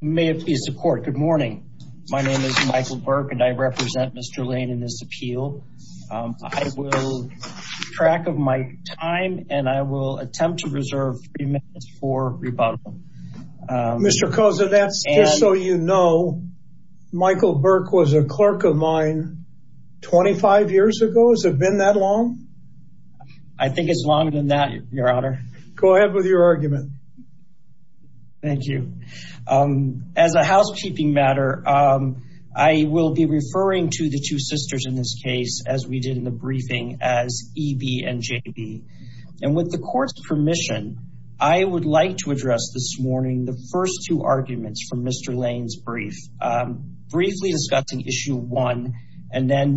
May it be support. Good morning. My name is Michael Burke and I represent Mr. Lane in this appeal. I will track of my time and I will attempt to reserve three minutes for rebuttal. Mr. Koza, that's just so you know, Michael Burke was a clerk of mine 25 years ago. Has it been that long? I think it's longer than that, your honor. Go ahead with your argument. Thank you. As a housekeeping matter, I will be referring to the two sisters in this case as we did in the briefing as EB and JB. And with the court's permission, I would like to address this morning the first two arguments from Mr. Lane's brief. Briefly discussing issue one and then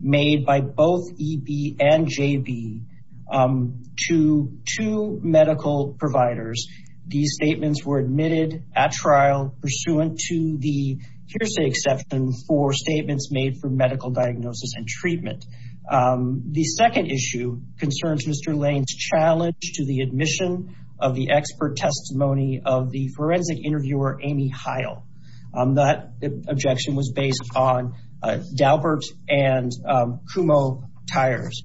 made by both EB and JB to two medical providers. These statements were admitted at trial pursuant to the hearsay exception for statements made for medical diagnosis and treatment. The second issue concerns Mr. Lane's challenge to the admission of the expert testimony of the forensic interviewer Amy Heil. That objection was based on Daubert and Kumho tires.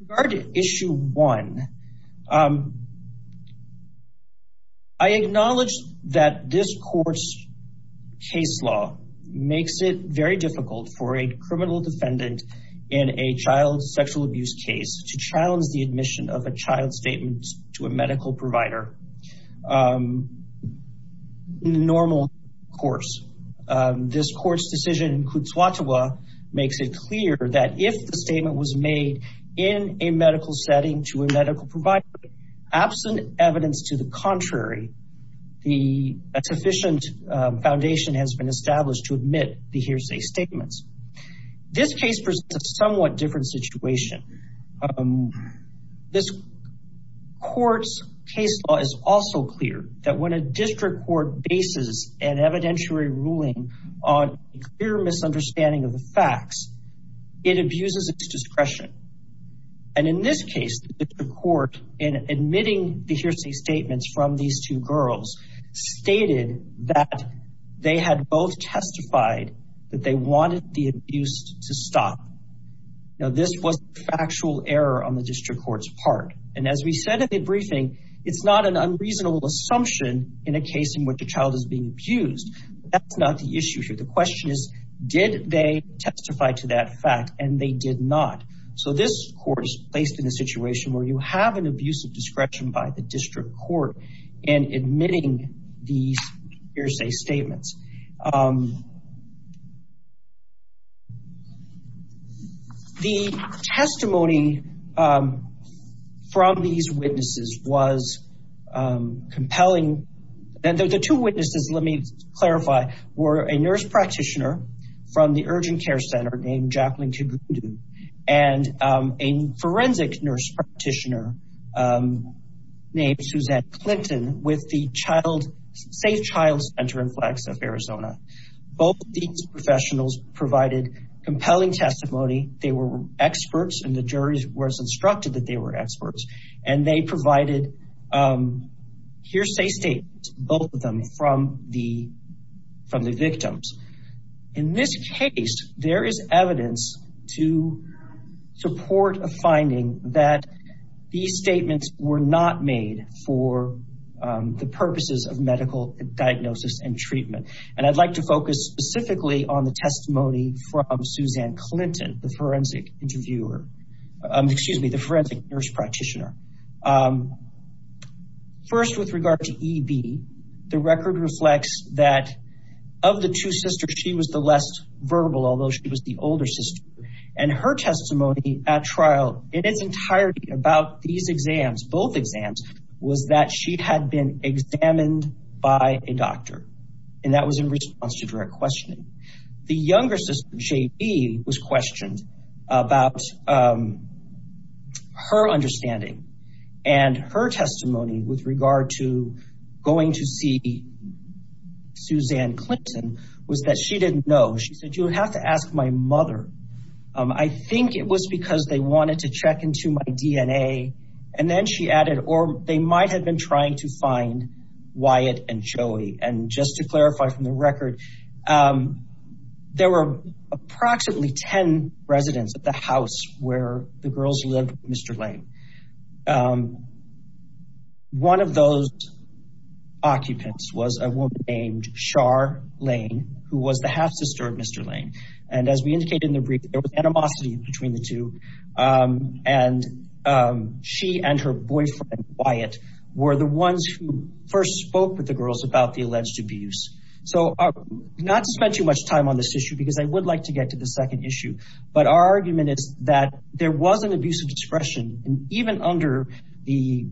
Regarding issue one, I acknowledge that this court's case law makes it very difficult for a criminal defendant in a child sexual abuse case to challenge the admission of a child statement to a medical provider in a normal course. This court's decision in Kutuatua makes it clear that if the statement was made in a medical setting to a medical provider, absent evidence to the contrary, the sufficient foundation has been established to admit the hearsay statements. This case presents a somewhat different situation. This court's case law is also clear that when a district court bases an evidentiary ruling on a clear misunderstanding of the facts, it abuses its discretion. And in this case, the court in admitting the hearsay statements from these two girls stated that they had both testified that they wanted the abuse to stop. Now this was a factual error on the district court's part. And as we said at the briefing, it's not an unreasonable assumption in a case in which a child is being abused. That's not the issue here. The question is, did they testify to that fact? And they did not. So this court is placed in a situation where you have an abusive discretion by the district court in admitting these hearsay statements. The testimony from these witnesses was compelling. And the two witnesses, let me clarify, were a nurse practitioner from the urgent care center named Jacqueline Kigundu and a forensic nurse practitioner named Suzette Clinton with the safe child center in Flagstaff, Arizona. Both of these professionals provided compelling testimony. They were experts, and the jury was instructed that they were experts. And they provided hearsay statements, both of them from the victims. In this case, there is evidence to support a finding that these statements were not made for the purposes of medical diagnosis and treatment. And I'd like to focus specifically on the testimony from Suzanne Clinton, the forensic nurse practitioner. First, with regard to EB, the record reflects that of the two sisters, she was the less verbal, although she was the older sister. And her testimony at trial in its entirety about these exams, both exams, was that she had been examined by a doctor. And that was in response to direct And her testimony with regard to going to see Suzanne Clinton was that she didn't know. She said, you would have to ask my mother. I think it was because they wanted to check into my DNA. And then she added, or they might have been trying to find Wyatt and Joey. And just to clarify from the record, there were approximately 10 residents at the house where the girls lived with Mr. Lane. One of those occupants was a woman named Char Lane, who was the half sister of Mr. Lane. And as we indicated in the brief, there was animosity between the two. And she and her boyfriend, Wyatt, were the ones who first spoke with the girls about the alleged abuse. So not to spend too much time on this issue, but our argument is that there was an abuse of discretion. And even under the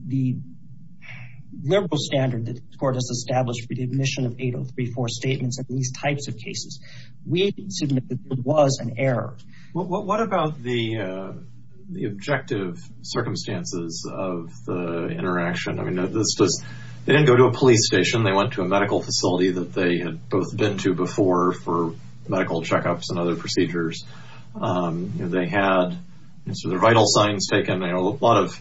liberal standard that the court has established for the admission of 8034 statements of these types of cases, we submit that it was an error. What about the objective circumstances of the interaction? I mean, they didn't go to a police station. They went to a medical facility that they had both been to before for medical checkups and other procedures. They had their vital signs taken, a lot of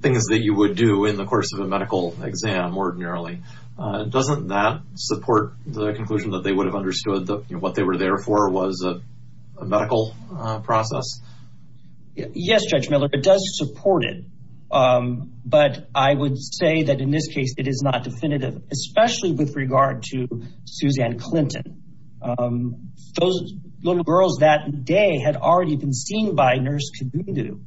things that you would do in the course of a medical exam ordinarily. Doesn't that support the conclusion that they would have understood that what they were there for was a medical process? Yes, Judge Miller, it does support it. But I would say that in this case, it is not definitive, especially with regard to Suzanne Clinton. Those little girls that day had already been seen by Nurse Kidundu,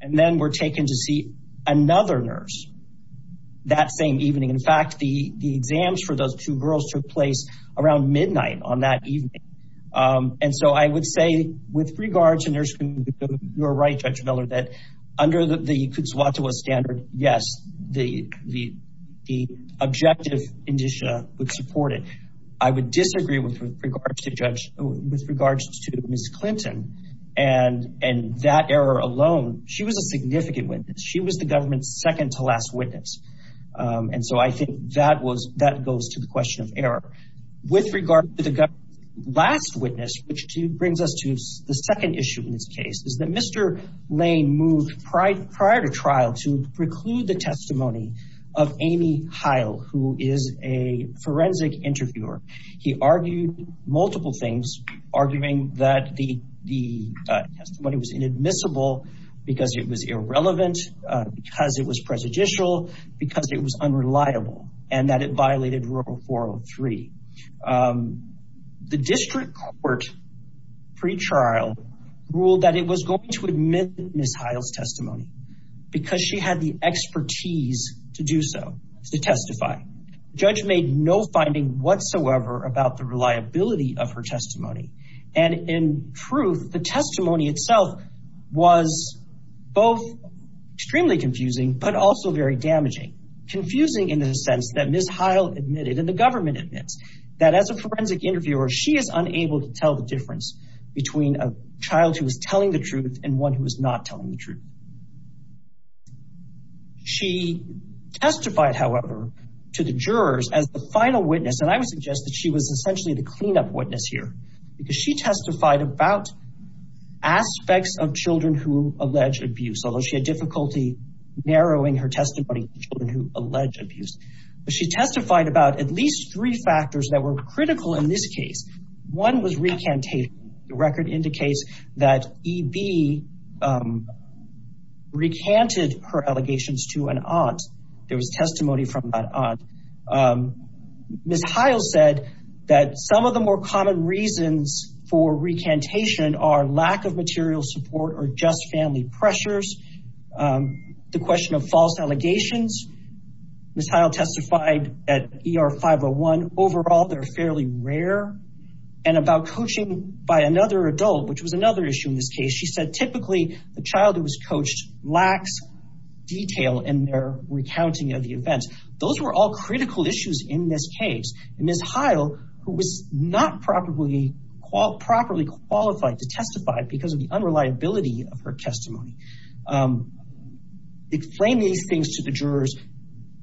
and then were taken to see another nurse that same evening. In fact, the exams for those two girls took place around midnight on that evening. And so I would say with regard to Nurse Kidundu, you're right, Judge Miller, that under the Kutsuwatawa standard, yes, the objective indicia would support it. I would disagree with regards to Ms. Clinton. And that error alone, she was a significant witness. She was the government's second to last witness. And so I think that goes to the question of error. With regard to the last witness, which is Amy Heil, who is a forensic interviewer. He argued multiple things, arguing that the testimony was inadmissible because it was irrelevant, because it was prejudicial, because it was unreliable, and that it violated Rule 403. The district court, pre-trial, ruled that it was going to admit Ms. Heil's testimony, because she had the expertise to do so, to testify. Judge made no finding whatsoever about the reliability of her testimony. And in truth, the testimony itself was both extremely confusing, but also very damaging. Confusing in the sense that Ms. Heil admitted, and the government admits, that as a forensic interviewer, she is unable to tell the truth. She testified, however, to the jurors as the final witness. And I would suggest that she was essentially the cleanup witness here, because she testified about aspects of children who allege abuse, although she had difficulty narrowing her testimony to children who allege abuse. But she testified about at least three factors that were critical in this case. One was recantation. The record indicates that EB recanted her allegations to an aunt. There was testimony from that aunt. Ms. Heil said that some of the more common reasons for recantation are lack of material support or just family pressures, the question of false allegations. Ms. Heil testified at ER 501. Overall, they're fairly rare. And about coaching by another adult, which was another issue in this case, she said typically the child who was coached lacks detail in their recounting of the events. Those were all critical issues in this case. And Ms. Heil, who was not properly qualified to testify because of the unreliability of her testimony, explained these things to the jurors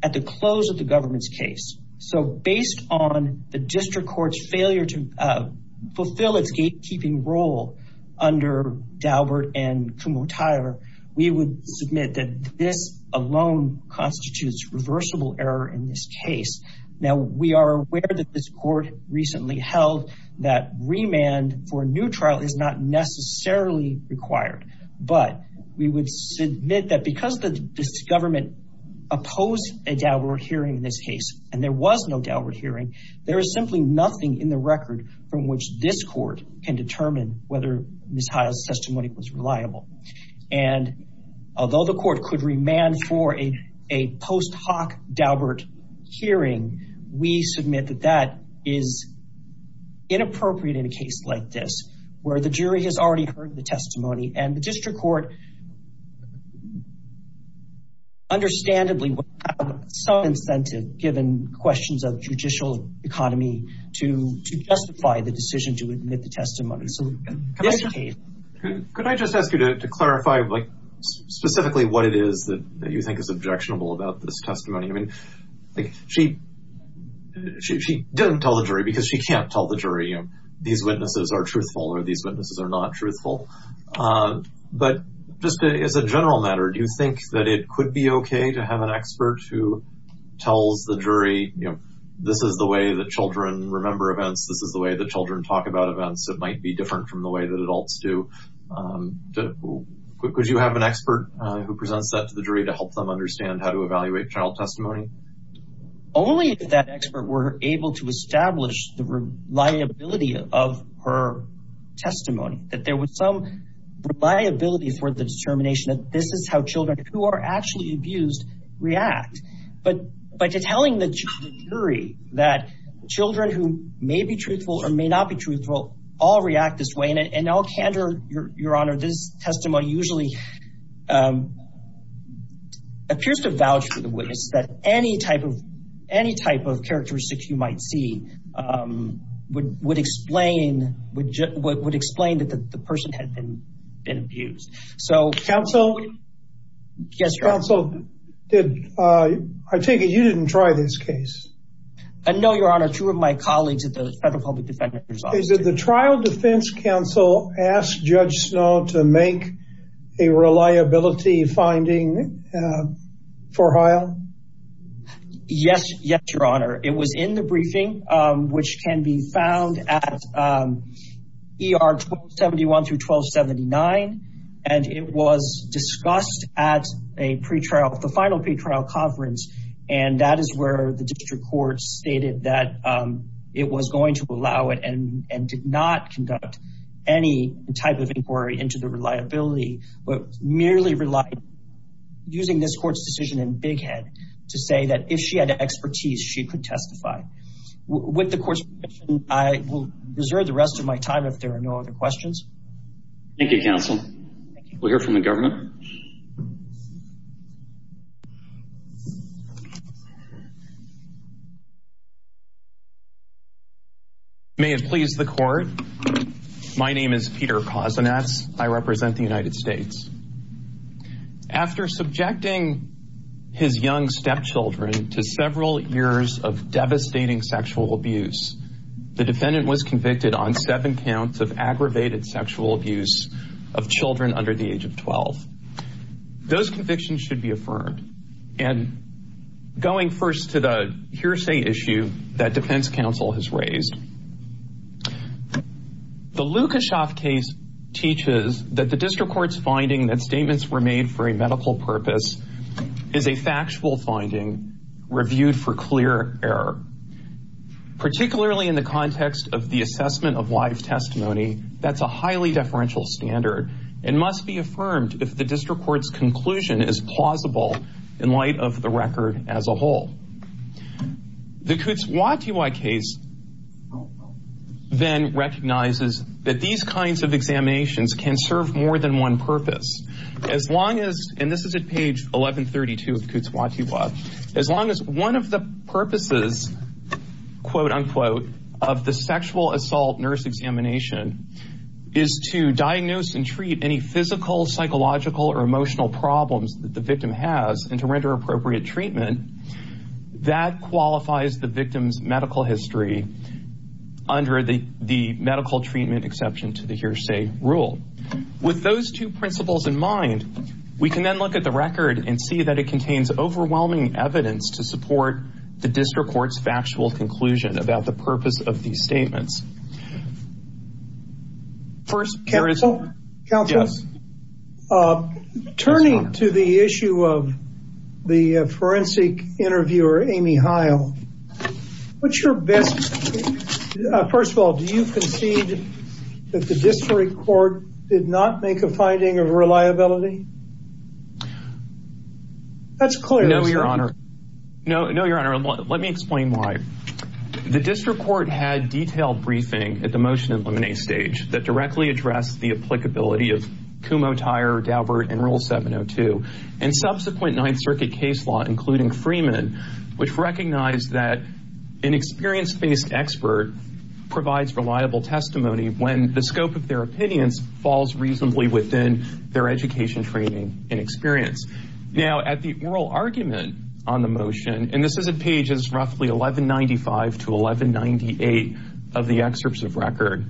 at the close of the government's case. So based on the district court's failure to fulfill its gatekeeping role under Daubert and Kumhotair, we would submit that this alone constitutes reversible error in this case. Now, we are aware that this court recently held that remand for a new trial is not necessarily required, but we would submit that because this government opposed a Daubert hearing in this case, and there was no Daubert hearing, there is simply nothing in the record from which this court can determine whether Ms. Heil's testimony was reliable. And although the court could remand for a post hoc Daubert hearing, we submit that that is inappropriate in a case like this, where the jury has already heard the testimony and the district court has, understandably, some incentive, given questions of judicial economy, to justify the decision to admit the testimony. Could I just ask you to clarify specifically what it is that you think is objectionable about this testimony? I mean, she doesn't tell the jury because she can't tell the jury these witnesses are truthful or these witnesses are not truthful. But just as a general matter, do you think that it could be okay to have an expert who tells the jury, you know, this is the way that children remember events, this is the way that children talk about events, it might be different from the way that adults do. Could you have an expert who presents that to the jury to help them understand how to evaluate trial testimony? Only if that expert were able to establish the reliability of her testimony, that there was some reliability for the determination that this is how children who are actually abused react. But by telling the jury that children who may be truthful or may not be truthful all react this way, and in all candor, your honor, this testimony usually appears to vouch for the witness that any type of characteristics you might see would explain that the person had been abused. Counsel? Yes, your honor. Counsel, I take it you didn't try this case? No, your honor, two of my colleagues at the Federal Public Defender's Office. Did the trial defense counsel ask Judge Snow to make a reliability finding for Heil? Yes, your honor. It was in the briefing, which can be found at ER 1271-1279, and it was discussed at a pre-trial, the final pre-trial conference, and that is where the district court stated that it was going to allow it and did not conduct any type of inquiry into the reliability, but merely relied, using this court's decision in big head, to say that if she had expertise, she could testify. With the court's permission, I will reserve the rest of my time if there are no other questions. Thank you, counsel. We'll hear from the government. May it please the court. My name is Peter Kozinets. I represent the United States. After subjecting his young stepchildren to several years of devastating sexual abuse, the defendant was convicted on seven counts of aggravated sexual abuse of children under the age of 12. Those convictions should be affirmed. And going first to the hearsay issue that defense counsel has raised, the Lukashoff case teaches that the district court's finding that statements were made for the assessment of live testimony, that's a highly deferential standard and must be affirmed if the district court's conclusion is plausible in light of the record as a whole. The Kutz-Watiwa case then recognizes that these kinds of examinations can serve more than one purpose, as long as, and this is at page 1132 of Kutz-Watiwa, as long as one of the purposes, quote unquote, of the sexual assault nurse examination is to diagnose and treat any physical, psychological, or emotional problems that the victim has and to render appropriate treatment that qualifies the victim's medical history under the medical treatment exception to the hearsay rule. With those two principles in mind, we can then look at the record and see it contains overwhelming evidence to support the district court's factual conclusion about the purpose of these statements. First, counsel, turning to the issue of the forensic interviewer, Amy Heil, what's your best, first of all, do you concede that the district court did not make a finding of reliability? That's clear. No, your honor. No, no, your honor. Let me explain why. The district court had detailed briefing at the motion and lemonade stage that directly addressed the applicability of Kumho-Tyre, Daubert, and Rule 702 and subsequent Ninth Circuit case law, including Freeman, which recognized that an experience-based expert provides reliable testimony when the scope of their opinions falls reasonably within their education, training, and experience. Now, at the oral argument on the motion, and this is at pages roughly 1195 to 1198 of the excerpts of record,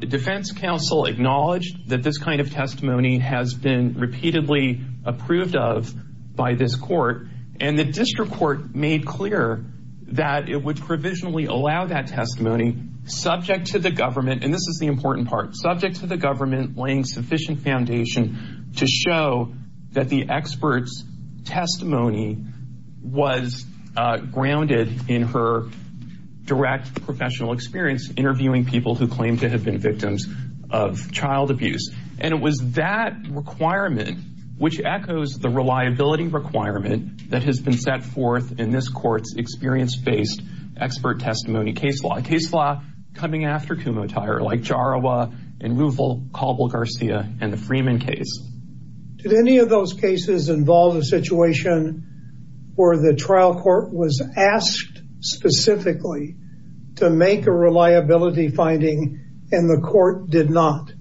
defense counsel acknowledged that this kind of testimony has been repeatedly approved of by this court, and the district court made clear that it would provisionally allow that testimony subject to the government, and this is the important part, subject to the government laying sufficient foundation to show that the expert's testimony was grounded in her direct professional experience interviewing people who claim to have been victims of child abuse. And it was that requirement, which echoes the reliability requirement that has been set forth in this court's experience-based expert testimony case law, a case law coming after Kumho-Tyre, like Jarawa and Ruvel, Caldwell-Garcia and the Freeman case. Did any of those cases involve a situation where the trial court was asked specifically to make a reliability finding and the court did not?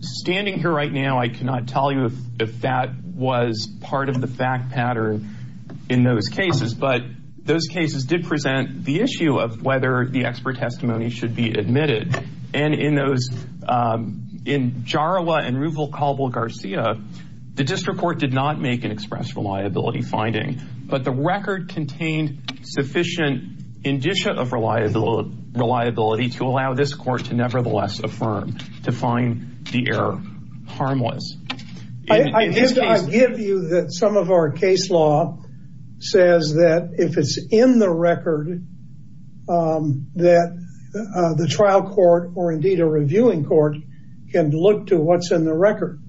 Standing here right now, I cannot tell you if that was part of the fact pattern in those cases, but those cases did present the issue of whether the expert testimony should be admitted, and in those, in Jarawa and Ruvel Caldwell-Garcia, the district court did not make an express reliability finding, but the record contained sufficient indicia of reliability, to allow this court to nevertheless affirm, to find the error harmless. I give you that some of our case law says that if it's in the record, that the trial court, or indeed a reviewing court, can look to what's in the record.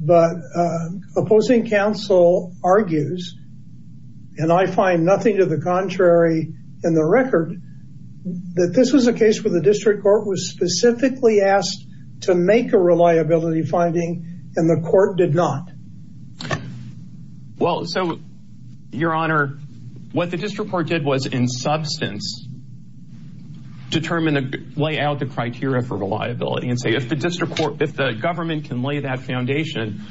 But opposing counsel argues, and I find nothing to the contrary in the record, that this was a case where the district court was specifically asked to make a reliability finding and the court did not. Well, so, your honor, what the district court did was, in substance, determine, lay out the criteria for reliability and say, if the district court, if the government can lay that foundation,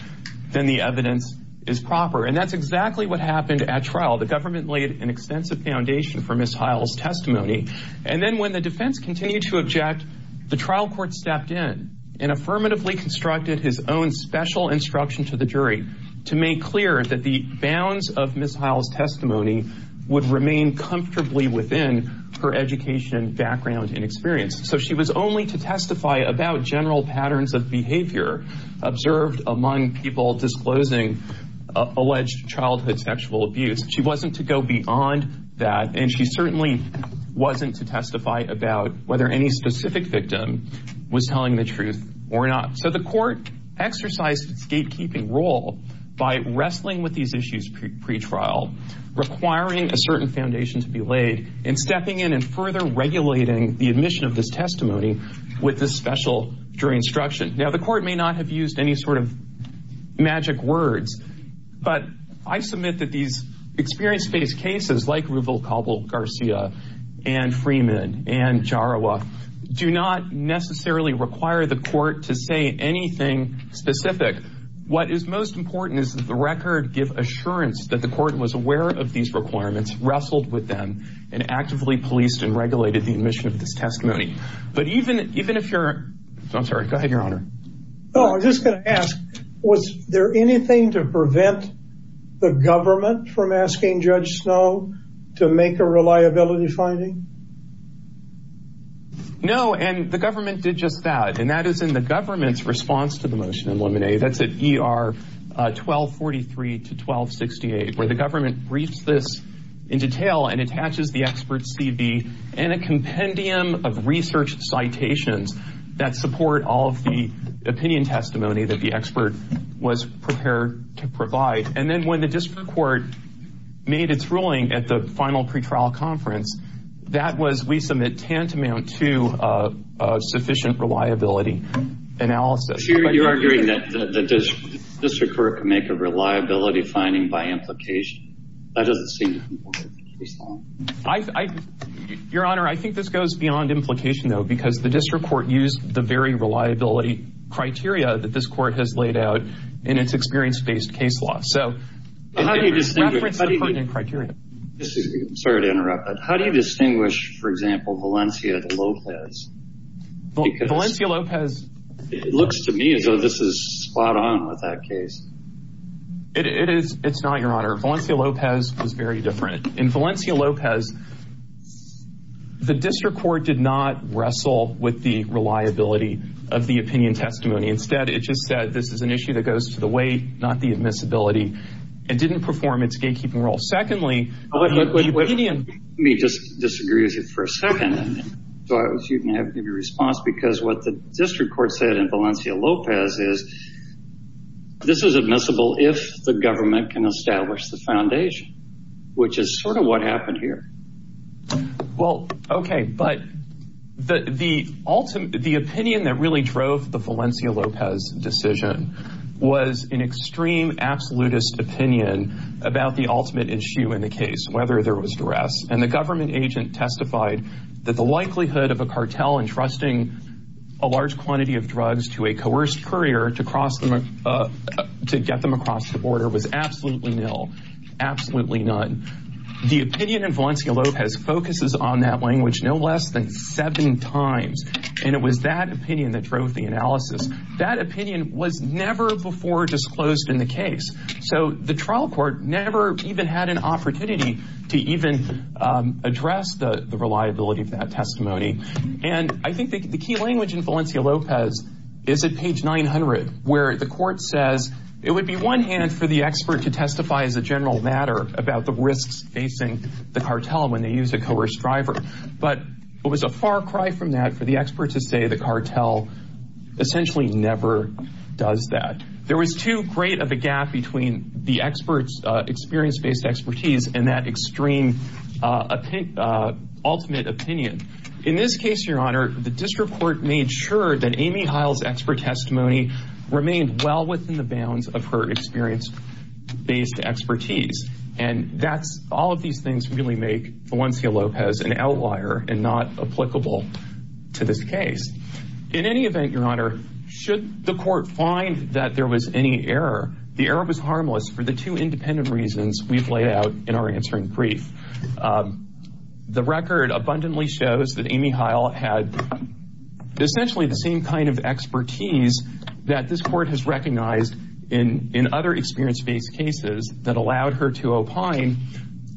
then the evidence is proper. And that's exactly what happened at trial. The government laid an extensive foundation for Ms. Heil's testimony, and then when the defense continued to object, the trial court stepped in and affirmatively constructed his own special instruction to the jury, to make clear that the bounds of Ms. Heil's testimony would remain comfortably within her education, background, and experience. So she was only to testify about general patterns of behavior observed among people disclosing alleged childhood sexual abuse. She wasn't to go beyond that, and she certainly wasn't to testify about whether any specific victim was telling the truth or not. So the court exercised its gatekeeping role by wrestling with these issues pre-trial, requiring a certain foundation to be laid, and stepping in and further regulating the admission of this testimony with this special jury instruction. Now, the court may not have used any sort of magic words, but I submit that these experience-based cases like Ruvalcabal Garcia and Freeman and Jarawa do not necessarily require the court to say anything specific. What is most important is that the record give assurance that the court was aware of these requirements, wrestled with them, and actively policed and regulated the admission of this testimony. But even if you're... I'm sorry, go ahead, Your Honor. Oh, I was just going to ask, was there anything to prevent the government from asking Judge Snow to make a reliability finding? No, and the government did just that, and that is in the government's response to the motion in limit A. That's at ER 1243 to 1268, where the government briefs this in detail and attaches the expert's CV and a compendium of research citations that support all of the opinion testimony that the expert was prepared to provide. And then when the district court made its ruling at the final pre-trial conference, that was, we submit, tantamount to a sufficient reliability analysis. So you're arguing that the district court can make a reliability finding by implication? That doesn't seem to conform with the case law. Your Honor, I think this goes beyond implication, though, because the district court used the very reliability criteria that this court has laid out in its experience-based case law. So- How do you distinguish- Reference the funding criteria. Excuse me, I'm sorry to interrupt, but how do you distinguish, for example, Valencia-Lopez? Valencia-Lopez- It looks to me as though this is spot on with that case. It is, it's not, Your Honor. Valencia-Lopez was very different. In Valencia-Lopez, the district court did not wrestle with the reliability of the opinion testimony. Instead, it just said this is an issue that goes to the weight, not the admissibility, and didn't perform its gatekeeping role. Secondly- Let me just disagree with you for a second, so you can give your response, because what the district court said in Valencia-Lopez is, this is admissible if the government can establish the foundation, which is sort of what happened here. Well, okay, but the opinion that really drove the Valencia-Lopez decision was an extreme absolutist opinion about the ultimate issue in the case, whether there was duress. And the government agent testified that the likelihood of a cartel entrusting a large quantity of drugs to a coerced courier to get them across the border was absolutely nil, absolutely none. The opinion in Valencia-Lopez focuses on that language no less than seven times, and it was that opinion that drove the analysis. That opinion was never before disclosed in the case, so the trial court never even had an opportunity to even address the reliability of that testimony. And I think the key language in Valencia-Lopez is at page 900, where the court says it would be one hand for the expert to testify as a general matter about the risks facing the cartel when they use a coerced driver, but it was a far cry from that for the expert to say the cartel essentially never does that. There was too great of a gap between the expert's experience expertise and that extreme ultimate opinion. In this case, Your Honor, the district court made sure that Amy Heil's expert testimony remained well within the bounds of her experience-based expertise. And all of these things really make Valencia-Lopez an outlier and not applicable to this case. In any event, Your Honor, should the court find that there was any error, the error was harmless for the two independent reasons we've laid out in our answering brief. The record abundantly shows that Amy Heil had essentially the same kind of expertise that this court has recognized in other experience-based cases that allowed her to opine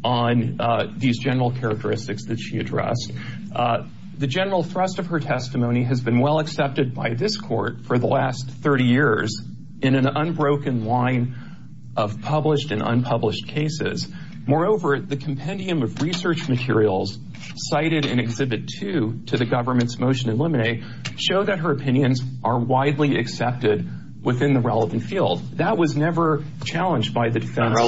on these general characteristics that she addressed. The general thrust of her testimony has been well accepted by this court for the last 30 years in an unbroken line of published and unpublished cases. Moreover, the compendium of research materials cited in Exhibit 2 to the government's motion in limine showed that her opinions are widely accepted within the relevant field. That was never challenged by the defense. How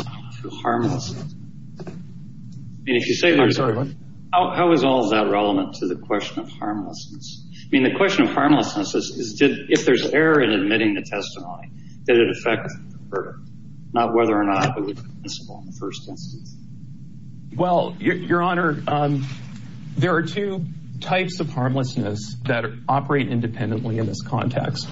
is all that relevant to the question of harmlessness? If there's error in admitting the testimony, did it affect her? Not whether or not it was permissible in the first instance. Well, Your Honor, there are two types of harmlessness that operate independently in this context.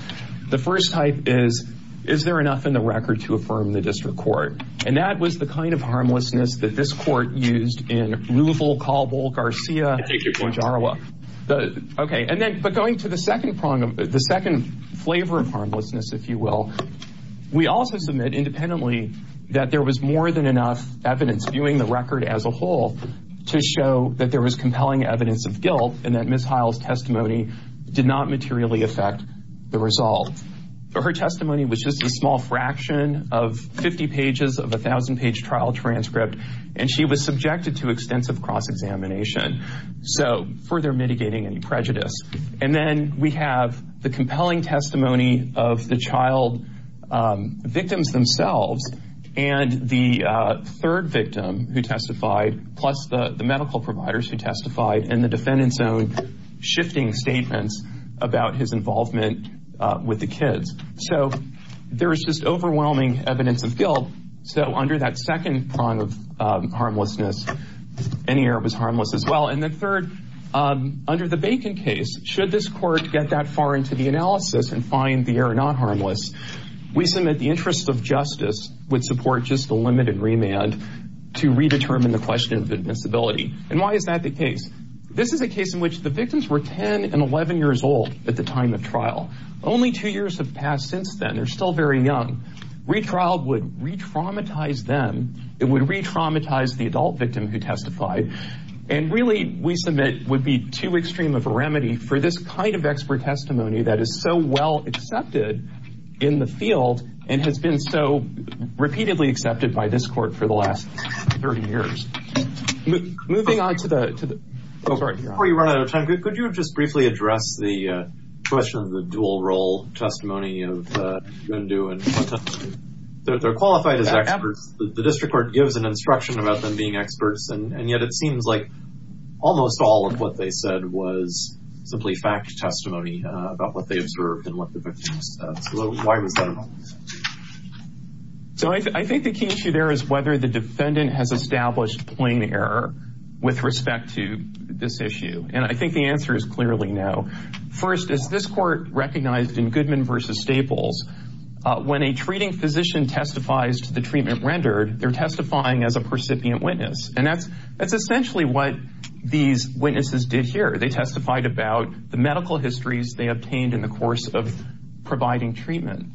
The first type is, is there enough in the record to affirm the district court? And that was the kind of harmlessness that this court used in the first instance. The second flavor of harmlessness, if you will, we also submit independently that there was more than enough evidence viewing the record as a whole to show that there was compelling evidence of guilt and that Ms. Heil's testimony did not materially affect the result. Her testimony was just a small fraction of 50 pages of a 1,000-page trial transcript, and she was subjected to extensive cross-examination, so further mitigating any we have the compelling testimony of the child victims themselves and the third victim who testified, plus the medical providers who testified and the defendant's own shifting statements about his involvement with the kids. So there is just overwhelming evidence of guilt, so under that second prong of harmlessness, any error was harmless as well. And the third, under the Bacon case, should this court get that far into the analysis and find the error not harmless, we submit the interest of justice would support just a limited remand to redetermine the question of invincibility. And why is that the case? This is a case in which the victims were 10 and 11 years old at the time of trial. Only two years have passed since then, they're still very young. Retrial would re-traumatize them, it would re-traumatize the adult victim who testified, and really we submit would be too extreme of a remedy for this kind of expert testimony that is so well accepted in the field and has been so repeatedly accepted by this court for the last 30 years. Moving on to the... Before you run out of time, could you just briefly address the question of the dual role testimony of Gundu and... They're qualified as experts, the district court gives an instruction about them being experts, and yet it seems like almost all of what they said was simply fact testimony about what they observed and what the victims said. So why was that? So I think the key issue there is whether the defendant has established plain error with respect to this issue, and I think the answer is clearly no. First, as this court recognized in Goodman v. Staples, when a treating physician testifies to treatment rendered, they're testifying as a percipient witness, and that's essentially what these witnesses did here. They testified about the medical histories they obtained in the course of providing treatment.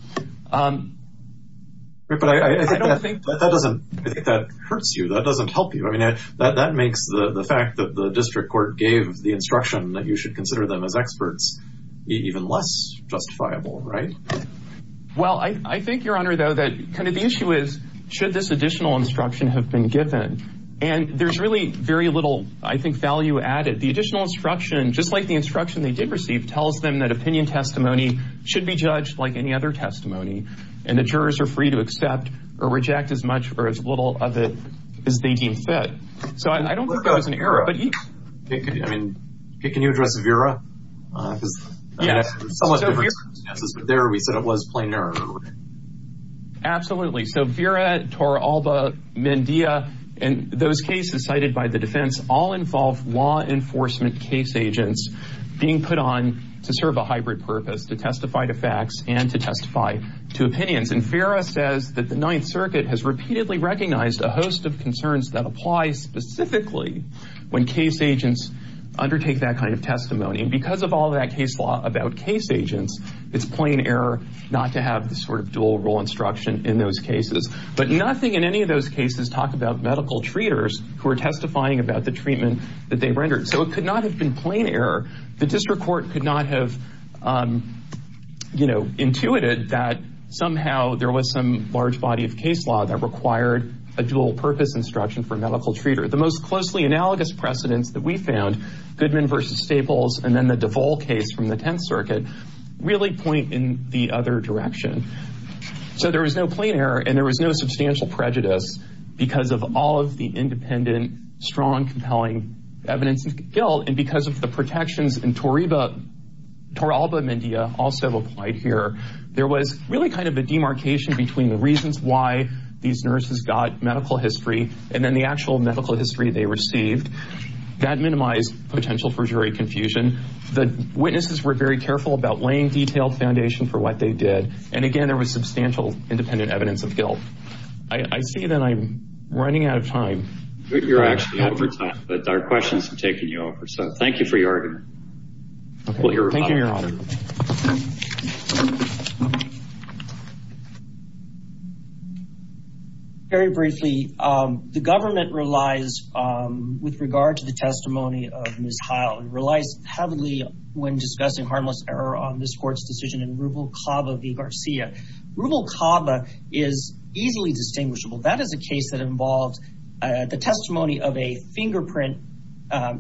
But I don't think that doesn't... I think that hurts you, that doesn't help you. I mean, that makes the fact that the district court gave the instruction that you should consider them as experts even less justifiable, right? Well, I think, Your Honor, though, that kind of the issue is, should this additional instruction have been given? And there's really very little, I think, value added. The additional instruction, just like the instruction they did receive, tells them that opinion testimony should be judged like any other testimony, and the jurors are free to accept or reject as much or as little of it as they deem fit. So I don't think there was an error, but... I mean, can you address Vera? Because there we said it was plain error, right? Absolutely. So Vera, Torralba, Mendia, and those cases cited by the defense all involve law enforcement case agents being put on to serve a hybrid purpose, to testify to facts and to testify to opinions. And Vera says that the Ninth Circuit has repeatedly recognized a host of concerns that apply specifically when case agents undertake that kind of testimony. And because of all that case law about case agents, it's plain error not to have this sort of dual role instruction in those cases. But nothing in any of those cases talk about medical treaters who are testifying about the treatment that they rendered. So it could not have been plain error. The district court could not have, you know, intuited that somehow there was some large body of case law that required a dual purpose instruction for a medical treater. The most closely analogous precedents that we found, Goodman versus Staples, and then the DeVol case from the Tenth Circuit, really point in the other direction. So there was no plain error and there was no substantial prejudice because of all of the independent, strong, compelling evidence of guilt. And because of the protections in Torralba-Mendia, also applied here, there was really kind of a demarcation between the reasons why these nurses got medical history and then the actual medical history they received. That minimized potential perjury confusion. The witnesses were very careful about laying detailed foundation for what they did. And again, there was substantial independent evidence of guilt. I see that I'm running out of time. You're actually over time, but our questions are coming up. Very briefly, the government relies, with regard to the testimony of Ms. Heil, relies heavily when discussing harmless error on this court's decision in Rubel-Cava v. Garcia. Rubel-Cava is easily distinguishable. That is a case that involves the testimony of a fingerprint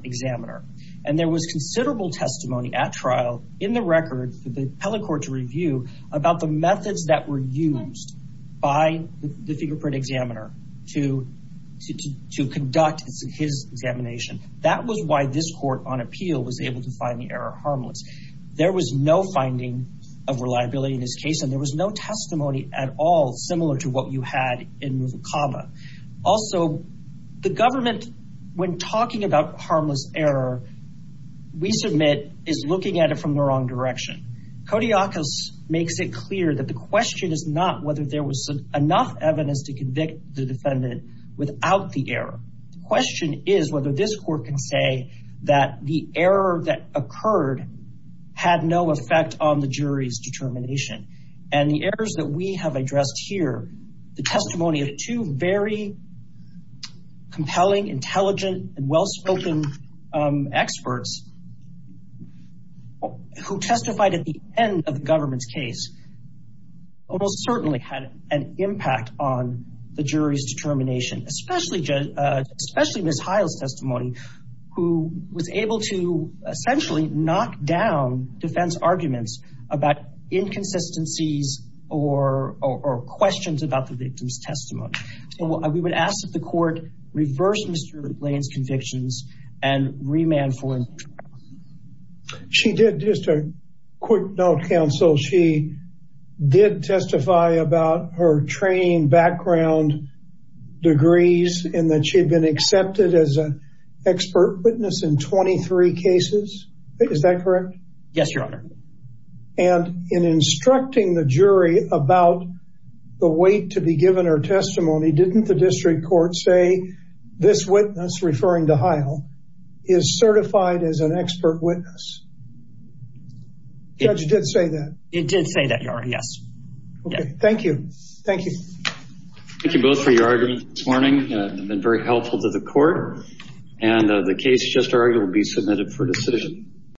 examiner. And there was considerable testimony at trial in the record for the appellate court to about the methods that were used by the fingerprint examiner to conduct his examination. That was why this court, on appeal, was able to find the error harmless. There was no finding of reliability in this case, and there was no testimony at all similar to what you had in Rubel-Cava. Also, the government, when talking about harmless error, we submit is looking at it from the wrong direction. Kodiakos makes it clear that the question is not whether there was enough evidence to convict the defendant without the error. The question is whether this court can say that the error that occurred had no effect on the jury's determination. And the errors that we have addressed here, the testimony of two very experts who testified at the end of the government's case, almost certainly had an impact on the jury's determination, especially Ms. Heil's testimony, who was able to essentially knock down defense arguments about inconsistencies or questions about the victim's testimony. We would ask that the court reverse Mr. Blaine's convictions and remand for him. She did. Just a quick note, counsel. She did testify about her training background degrees and that she had been accepted as an expert witness in 23 cases. Is that correct? Yes, Your Honor. And in instructing the jury about the weight to be given her testimony, didn't the district court say this witness, referring to Heil, is certified as an expert witness? Judge did say that. It did say that, Your Honor. Yes. Okay. Thank you. Thank you. Thank you both for your arguments this morning. They've been very helpful to the court. And the case just argued will be submitted for decision.